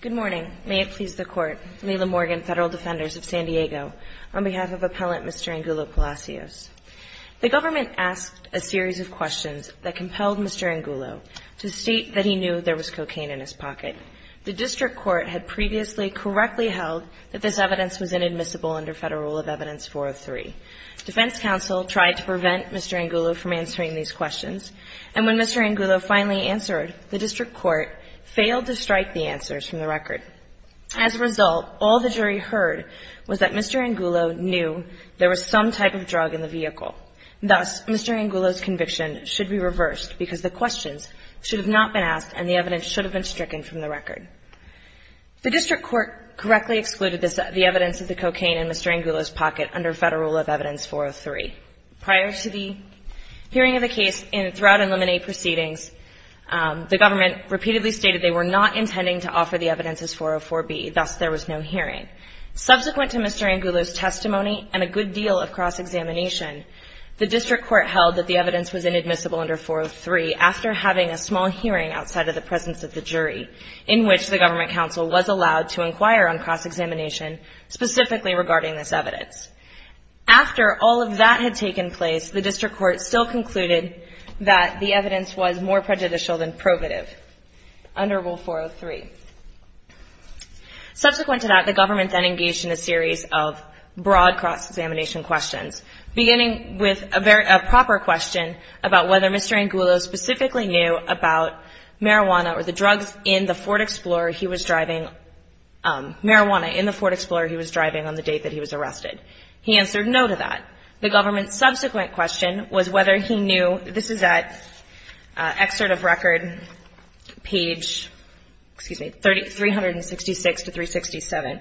Good morning. May it please the Court, Lila Morgan, Federal Defenders of San Diego, on behalf of Appellant Mr. Angulo-Palacios. The government asked a series of questions that compelled Mr. Angulo to state that he knew there was cocaine in his pocket. The District Court had previously correctly held that this evidence was inadmissible under Federal Rule of Evidence 403. Defense counsel tried to prevent Mr. Angulo from answering these questions, and when Mr. Angulo finally answered, the District Court failed to strike the answers from the record. As a result, all the jury heard was that Mr. Angulo knew there was some type of drug in the vehicle. Thus, Mr. Angulo's conviction should be reversed because the questions should have not been asked and the evidence should have been stricken from the record. The District Court correctly excluded the evidence of the cocaine in Mr. Angulo's pocket. In this case, throughout in limine proceedings, the government repeatedly stated they were not intending to offer the evidence as 404B. Thus, there was no hearing. Subsequent to Mr. Angulo's testimony and a good deal of cross-examination, the District Court held that the evidence was inadmissible under 403 after having a small hearing outside of the presence of the jury, in which the government counsel was allowed to inquire on cross-examination specifically regarding this evidence. After all of that had taken place, the District Court still concluded that the evidence was more prejudicial than probative under Rule 403. Subsequent to that, the government then engaged in a series of broad cross-examination questions, beginning with a proper question about whether Mr. Angulo specifically knew about marijuana or the drugs in the Ford Explorer he was driving on the date that he was arrested. He answered no to that. The government's subsequent question was whether he knew this is at excerpt of record, page, excuse me, 366 to 367.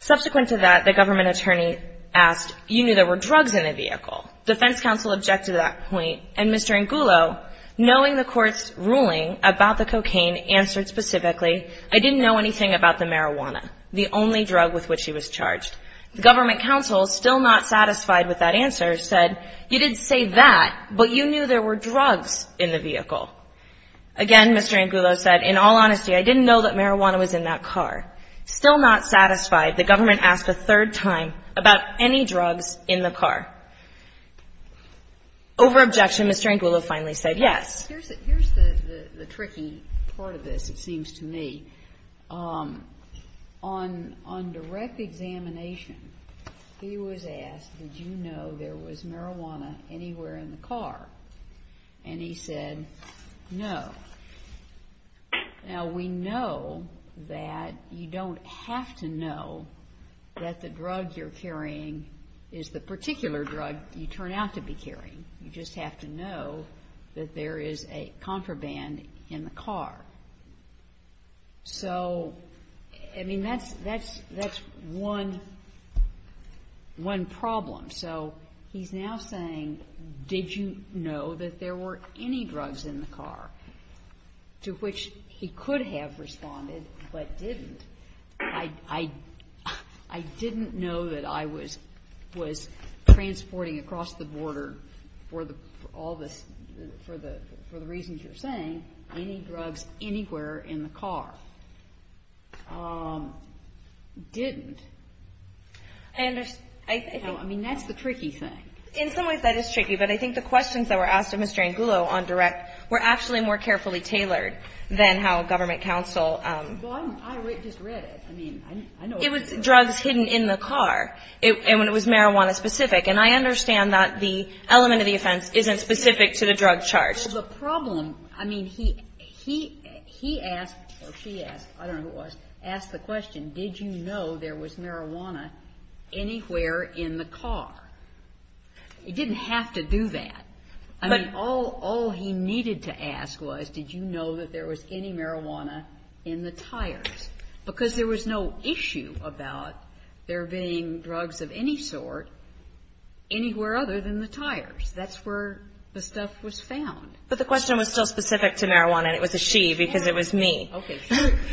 Subsequent to that, the government attorney asked, you knew there were drugs in the vehicle. Defense counsel objected to that point, and Mr. Angulo, knowing the court's ruling about the cocaine, answered specifically, I didn't know anything about the marijuana, the only drug with which he was charged. The government counsel, still not satisfied with that answer, said, you didn't say that, but you knew there were drugs in the vehicle. Again, Mr. Angulo said, in all honesty, I didn't know that marijuana was in that car. Still not satisfied, the government asked a third time about any drugs in the car. Over objection, Mr. Angulo finally said yes. Here's the tricky part of this, it seems to me. On direct examination, he was asked, did you know there was marijuana anywhere in the car? And he said, no. Now, we know that you don't have to know that the drug you're carrying is the particular drug you are carrying, but you do know that there is a contraband in the car. So, I mean, that's one problem. So, he's now saying, did you know that there were any drugs in the car? To which he could have responded, but didn't. I didn't know that I was transporting across the border for all this, for the reasons you're saying, any drugs anywhere in the car. Didn't. I mean, that's the tricky thing. In some ways, that is tricky, but I think the questions that were asked of Mr. Angulo on direct were actually more carefully tailored than how government counsel Well, I just read it. I mean, I know it was drugs hidden in the car, and it was marijuana specific, and I understand that the element of the offense isn't specific to the drug charge. Well, the problem, I mean, he asked, or she asked, I don't know who it was, asked the question, did you know there was marijuana anywhere in the car? He didn't have to do that. I mean, all he needed to ask was, did you know that there was any marijuana in the tires? Because there was no issue about there being drugs of any sort anywhere other than the tires. That's where the stuff was found. But the question was still specific to marijuana, and it was a she, because it was me. Okay.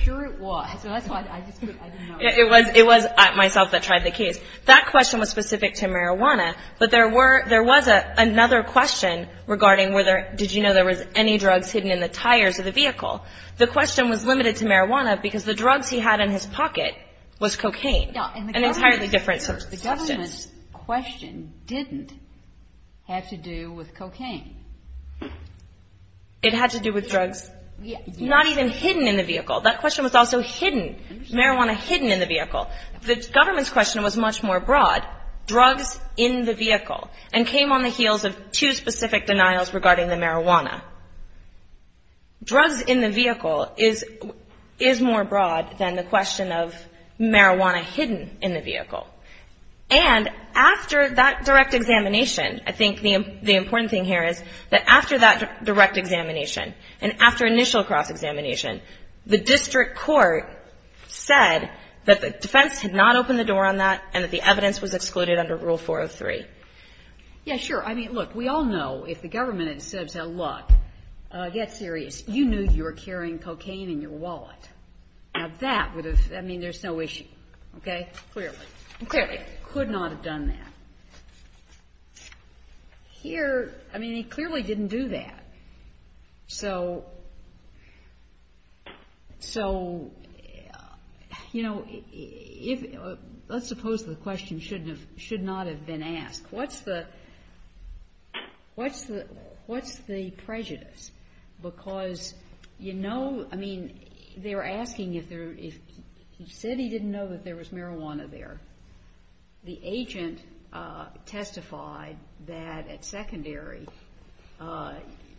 Sure it was. So that's why I just put, I didn't know. It was myself that tried the case. That question was specific to marijuana, but there were, there was another question regarding whether, did you know there was any drugs hidden in the tires of the vehicle? The question was limited to marijuana because the drugs he had in his pocket was cocaine, an entirely different substance. The government's question didn't have to do with cocaine. It had to do with drugs not even hidden in the vehicle. That question was also hidden, marijuana hidden in the vehicle. The government's question was much more broad, drugs in the vehicle, and came on the heels of two specific denials regarding the marijuana. Drugs in the vehicle is more broad than the question of marijuana hidden in the vehicle. And after that direct examination, I think the important thing here is that after that direct examination, and after initial cross-examination, the district court said that the defense had not opened the door on that and that the evidence was excluded under Rule 403. Yeah, sure. I mean, look, we all know if the government had said, look, get serious, you knew you were carrying cocaine in your wallet. Now, that would have, I mean, there's no issue. Okay? Clearly. Clearly. Could not have done that. Here, I mean, he clearly didn't do that. So, you know, let's suppose the question should not have been asked. What's the prejudice? Because, you know, I mean, they were asking if he said he didn't know that there was marijuana there. The agent testified that at secondary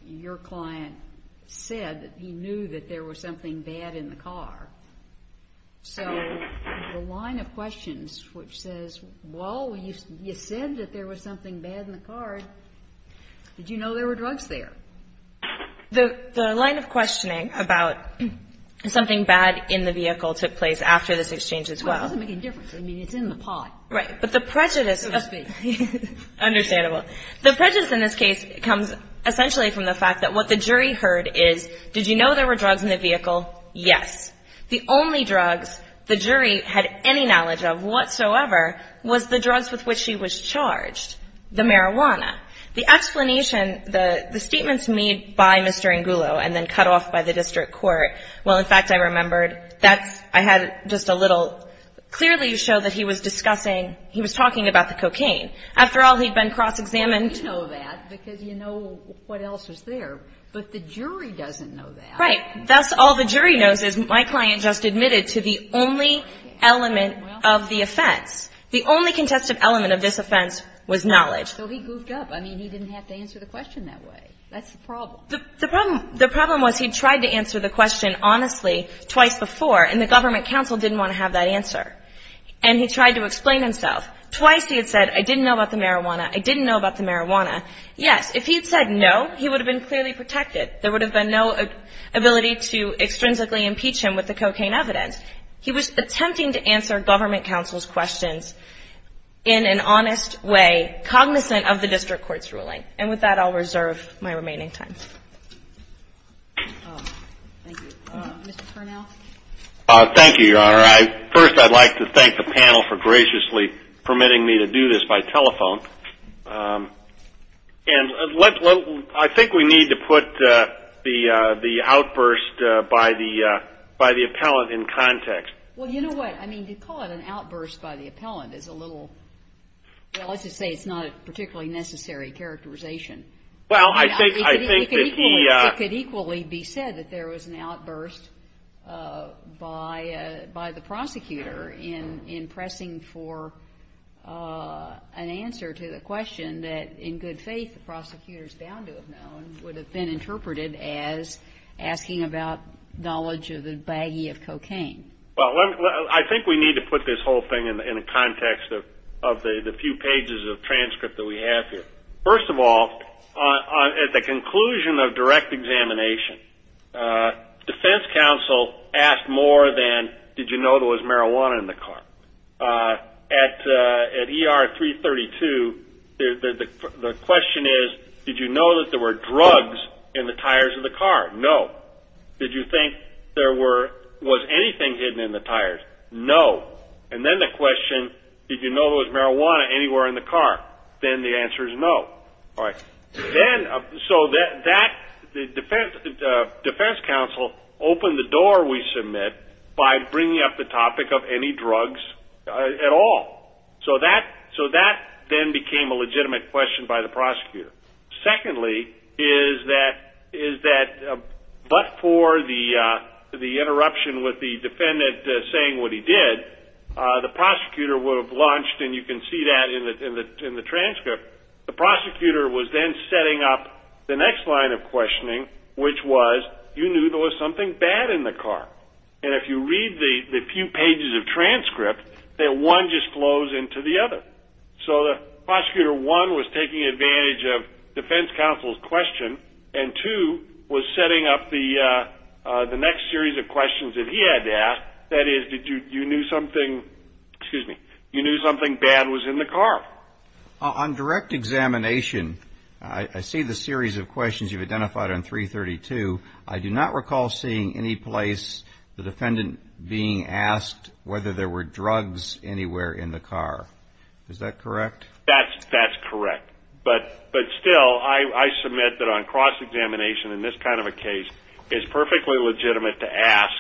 your client said that he knew that there was something bad in the car. So the line of questions which says, well, you said that there was something bad in the car. Did you know there were drugs there? The line of questioning about something bad in the vehicle took place after this exchange as well. Right. But the prejudice in this case comes essentially from the fact that what the jury heard is, did you know there were drugs in the vehicle? Yes. The only drugs the jury had any knowledge of whatsoever was the drugs with which she was charged, the marijuana. The explanation, the statements made by Mr. Angulo and then cut off by the district court, well, in fact, I remembered that I had just a little clearly to show that he was discussing, he was talking about the cocaine. After all, he'd been cross-examined. You know that because you know what else was there, but the jury doesn't know that. Right. That's all the jury knows is my client just admitted to the only element of the offense. The only contested element of this offense was knowledge. So he goofed up. I mean, he didn't have to answer the question that way. That's the problem. The problem was he tried to answer the question honestly twice before, and the government counsel didn't want to have that answer. And he tried to explain himself. Twice he had said, I didn't know about the marijuana, I didn't know about the marijuana. Yes. If he had said no, he would have been clearly protected. There would have been no ability to extrinsically impeach him with the cocaine evidence. He was attempting to answer government counsel's questions in an honest way, cognizant of the district court's ruling. And with that, I'll reserve my remaining time. Thank you. Mr. Turnell? Thank you, Your Honor. First, I'd like to thank the panel for graciously permitting me to do this by telephone. And I think we need to put the outburst by the appellant in kind of a way that we can have a little more context. Well, you know what? I mean, to call it an outburst by the appellant is a little – well, let's just say it's not a particularly necessary characterization. Well, I think that he – It could equally be said that there was an outburst by the prosecutor in pressing for an answer to the question that, in good faith, the prosecutor is bound to have known would have been interpreted as asking about knowledge of the baggie of cocaine. Well, I think we need to put this whole thing in the context of the few pages of transcript that we have here. First of all, at the conclusion of direct examination, defense counsel asked more than did you know there was marijuana in the car? At ER-332, the question is, did you know that there were drugs in the tires of the car? No. Did you think there were – was anything hidden in the tires? No. And then the question, did you know there was marijuana anywhere in the car? Then the answer is no. All right. Then – so that – the defense counsel opened the door, we submit, by bringing up the topic of any drugs at all. So that then became a legitimate question by the prosecutor. Secondly, is that – but for the interruption with the defendant saying what he did, the prosecutor would have launched – and you can see that in the transcript – the prosecutor was then setting up the next line of questioning, which was, you knew there was something bad in the car. And if you read the few pages of transcript, then one just flows into the other. So the prosecutor, one, was taking advantage of defense counsel's question, and two, was setting up the next series of questions that he had to ask. That is, did you – you knew something – excuse me – you knew something bad was in the car. On direct examination, I see the series of questions you've identified on 332. I do not recall seeing any place the defendant being asked whether there were drugs anywhere in the car. Is that correct? That's correct. But still, I submit that on cross-examination in this kind of a case, it's perfectly legitimate to ask,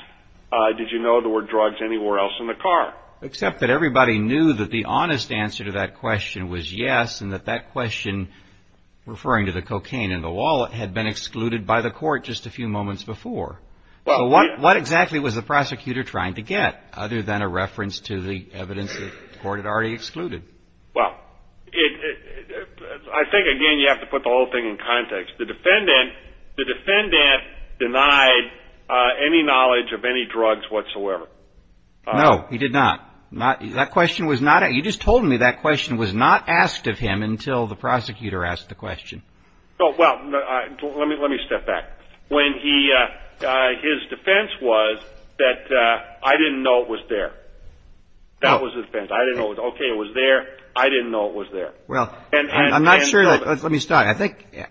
did you know there were drugs anywhere else in the car? Except that everybody knew that the honest answer to that question was yes, and that that question referring to the cocaine in the wallet had been excluded by the court just a few moments before. So what exactly was the prosecutor trying to get, other than a reference to the evidence that the court had already excluded? Well, I think, again, you have to put the whole thing in context. The defendant denied any knowledge of any drugs whatsoever. No, he did not. That question was not – you just told me that question was not asked of him until the prosecutor asked the question. Well, let me step back. His defense was that I didn't know it was there. That was his defense. I didn't know, okay, it was there. I didn't know it was there. Well, I'm not sure – let me start.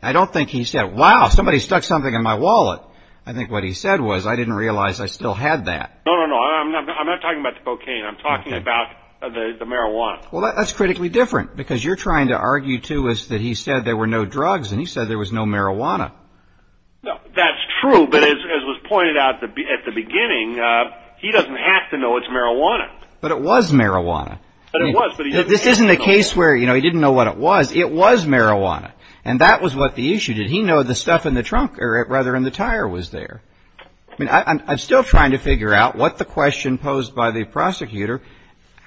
I don't think he said, wow, somebody stuck something in my wallet. I think what he said was, I didn't realize I still had that. No, no, no. I'm not talking about the cocaine. I'm talking about the marijuana. Well, that's critically different, because you're trying to argue, too, that he said there were no drugs, and he said there was no marijuana. No, that's true. But as was pointed out at the beginning, he doesn't have to know it's marijuana. But it was marijuana. But it was. This isn't a case where, you know, he didn't know what it was. It was marijuana. And that was what the issue. Did he know the stuff in the trunk, or rather in the tire, was there? I mean, I'm still trying to figure out what the question posed by the prosecutor,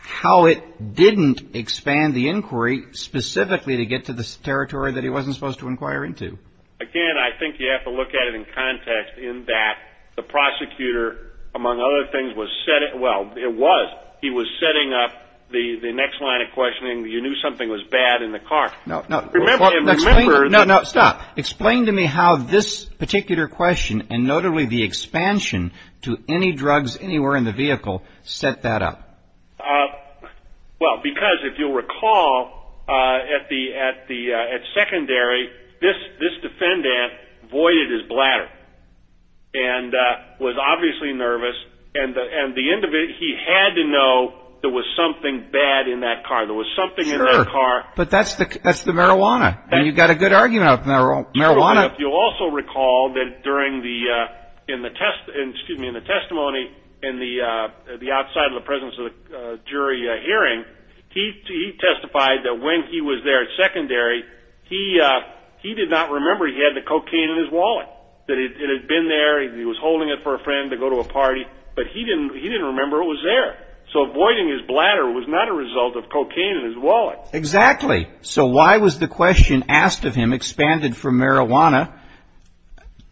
how it didn't expand the inquiry specifically to get to the territory that he wasn't supposed to inquire into. Again, I think you have to look at it in context, in that the prosecutor, among other things, was setting up the next line of questioning. You knew something was bad in the car. No, no. Stop. Explain to me how this particular question, and notably the expansion to any drugs anywhere in the vehicle, set that up. Well, because if you'll recall, at secondary, this defendant voided his bladder. And was obviously nervous. And the end of it, he had to know there was something bad in that car. There was something in that car. Sure. But that's the marijuana. And you've got a good argument on marijuana. But if you'll also recall that during the testimony, in the outside of the presence of the jury hearing, he testified that when he was there at secondary, he did not remember he had the cocaine in his wallet. That it had been there, he was holding it for a friend to go to a party, but he didn't remember it was there. So voiding his bladder was not a result of cocaine in his wallet. Exactly. So why was the question asked of him expanded from marijuana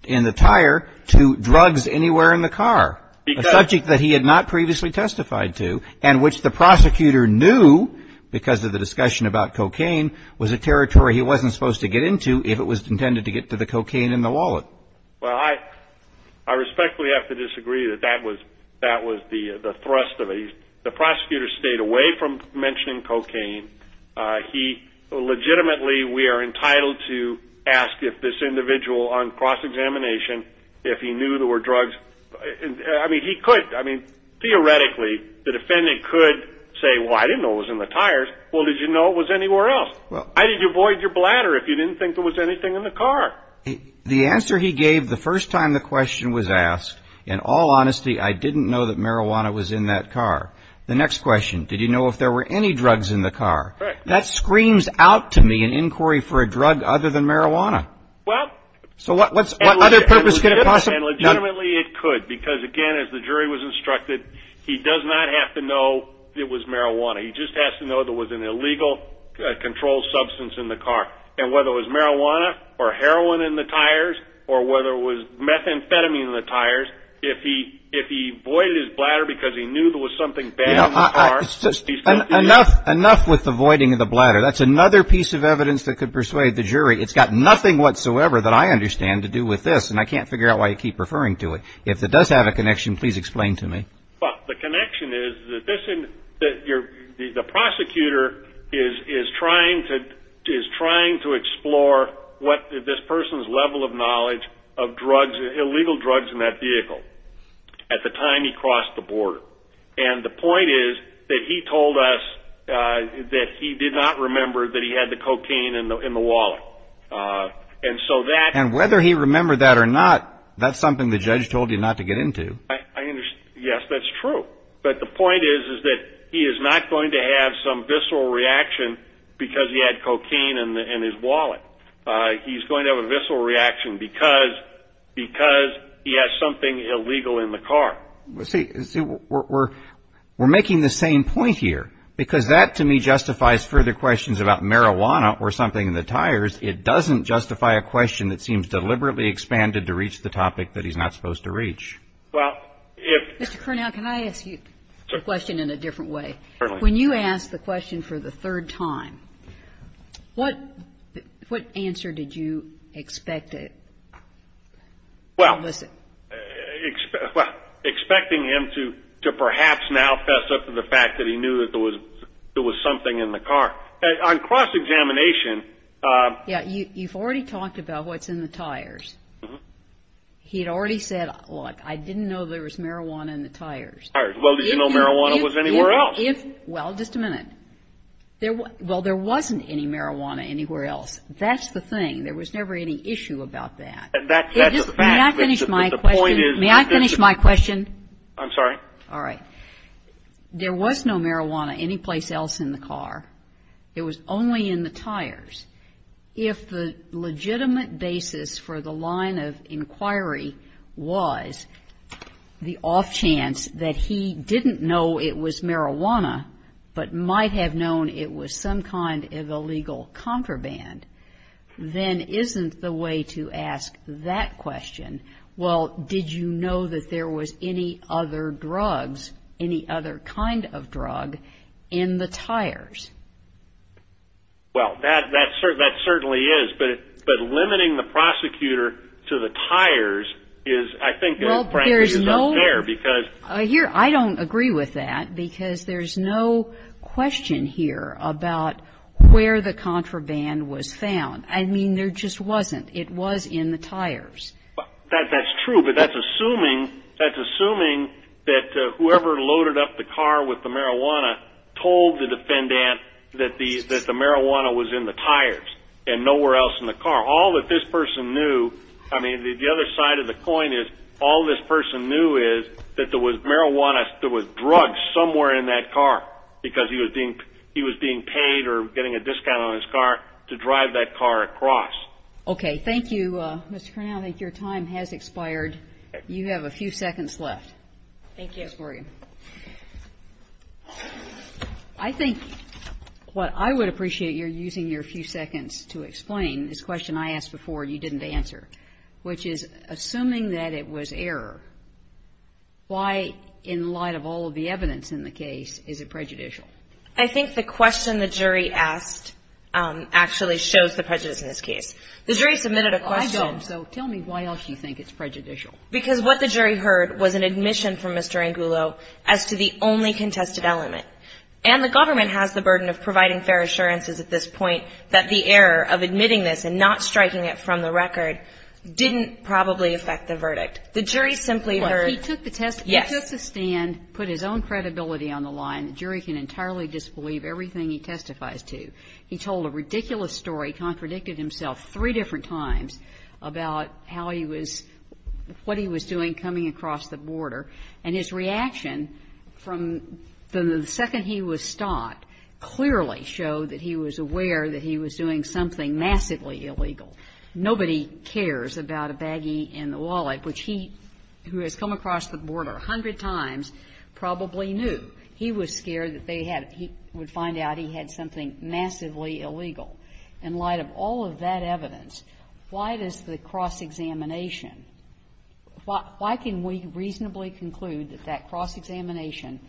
in the tire to drugs anywhere in the car, a subject that he had not previously testified to, and which the prosecutor knew, because of the discussion about cocaine, was a territory he wasn't supposed to get into if it was intended to get to the cocaine in the wallet. Well, I respectfully have to disagree that that was the thrust of it. The prosecutor stayed away from mentioning cocaine. He legitimately, we are entitled to ask if this individual on cross-examination, if he knew there were drugs. I mean, he could. I mean, theoretically, the defendant could say, well, I didn't know it was in the tires. Well, did you know it was anywhere else? Why did you void your bladder if you didn't think there was anything in the car? The answer he gave the first time the question was asked, in all honesty, I didn't know that marijuana was in that car. The next question, did you know if there were any drugs in the car? That screams out to me an inquiry for a drug other than marijuana. Well. So what other purpose could it possibly? Legitimately, it could, because again, as the jury was instructed, he does not have to know it was marijuana. He just has to know there was an illegal controlled substance in the car. And whether it was marijuana or heroin in the tires or whether it was methamphetamine in the tires, if he voided his bladder because he knew there was something bad in the car. Enough with the voiding of the bladder. That's another piece of evidence that could persuade the jury. It's got nothing whatsoever that I understand to do with this, and I can't figure out why you keep referring to it. If it does have a connection, please explain to me. The connection is that the prosecutor is trying to explore this person's level of knowledge of illegal drugs in that vehicle at the time he crossed the border. And the point is that he told us that he did not remember that he had the cocaine in the wallet. And whether he remembered that or not, that's something the judge told you not to get into. Yes, that's true. But the point is that he is not going to have some visceral reaction because he had cocaine in his wallet. He's going to have a visceral reaction because he has something illegal in the car. See, we're making the same point here. Because that, to me, justifies further questions about marijuana or something in the tires. It doesn't justify a question that seems deliberately expanded to reach the topic that he's not supposed to reach. Well, if ---- Mr. Curnow, can I ask you a question in a different way? Certainly. When you asked the question for the third time, what answer did you expect to elicit? Well, expecting him to perhaps now fess up to the fact that he knew that there was something in the car. On cross-examination ---- Yes, you've already talked about what's in the tires. He had already said, look, I didn't know there was marijuana in the tires. Well, did you know marijuana was anywhere else? Well, just a minute. Well, there wasn't any marijuana anywhere else. That's the thing. There was never any issue about that. That's a fact. May I finish my question? The point is ---- May I finish my question? I'm sorry. All right. There was no marijuana anyplace else in the car. It was only in the tires. If the legitimate basis for the line of inquiry was the off chance that he didn't know it was marijuana, but might have known it was some kind of illegal contraband, then isn't the way to ask that question, well, did you know that there was any other drugs, any other kind of drug in the tires? Well, that certainly is. But limiting the prosecutor to the tires is, I think ---- Well, there's no ---- Because ---- I don't agree with that because there's no question here about where the contraband was found. I mean, there just wasn't. It was in the tires. That's true. But that's assuming that whoever loaded up the car with the marijuana told the defendant that the marijuana was in the tires and nowhere else in the car. All that this person knew, I mean, the other side of the coin is all this person knew is that there was marijuana, there was drugs somewhere in that car because he was being paid or getting a discount on his car to drive that car across. Okay. Thank you, Mr. Cornell. I think your time has expired. You have a few seconds left. Thank you. Ms. Morgan. I think what I would appreciate your using your few seconds to explain this question I asked before you didn't answer, which is assuming that it was error, why, in light of all of the evidence in the case, is it prejudicial? I think the question the jury asked actually shows the prejudice in this case. The jury submitted a question ---- Well, I don't. So tell me why else you think it's prejudicial. Because what the jury heard was an admission from Mr. Angulo as to the only contested element. And the government has the burden of providing fair assurances at this point that the error of admitting this and not striking it from the record didn't probably affect the verdict. The jury simply heard ---- Well, he took the test. Yes. He took the stand, put his own credibility on the line. The jury can entirely disbelieve everything he testifies to. He told a ridiculous story, contradicted himself three different times about how he was ---- what he was doing coming across the border. And his reaction from the second he was stopped clearly showed that he was aware that he was doing something massively illegal. Nobody cares about a baggie in the wallet, which he, who has come across the border a hundred times, probably knew. He was scared that they had ---- he would find out he had something massively illegal. In light of all of that evidence, why does the cross-examination ---- why can we reasonably conclude that that cross-examination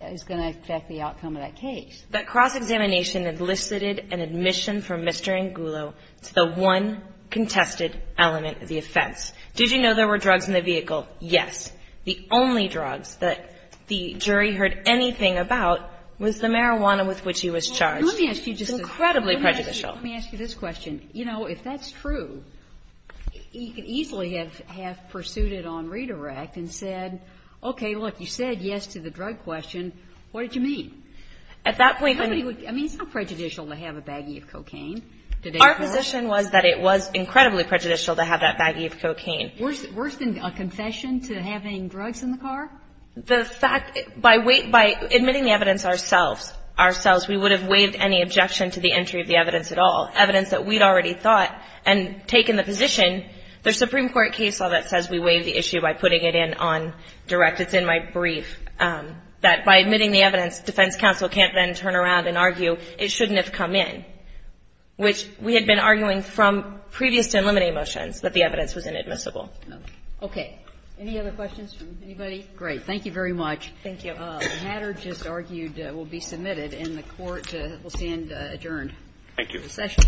is going to affect the outcome of that case? That cross-examination elicited an admission from Mr. Angulo to the one contested element of the offense. Did you know there were drugs in the vehicle? Yes. The only drugs that the jury heard anything about was the marijuana with which he was charged. It's incredibly prejudicial. Let me ask you this question. You know, if that's true, he could easily have pursued it on redirect and said, okay, look, you said yes to the drug question. What did you mean? At that point, I mean, it's not prejudicial to have a baggie of cocaine. Our position was that it was incredibly prejudicial to have that baggie of cocaine. Worse than a confession to having drugs in the car? The fact ---- by admitting the evidence ourselves, we would have waived any objection to the entry of the evidence at all, evidence that we'd already thought and taken the position. There's a Supreme Court case law that says we waive the issue by putting it in on direct. It's in my brief. That by admitting the evidence, defense counsel can't then turn around and argue it shouldn't have come in, which we had been arguing from previous to eliminating the motions, that the evidence was inadmissible. Okay. Any other questions from anybody? Great. Thank you very much. Thank you. The matter just argued will be submitted, and the Court will stand adjourned. Thank you. Recession.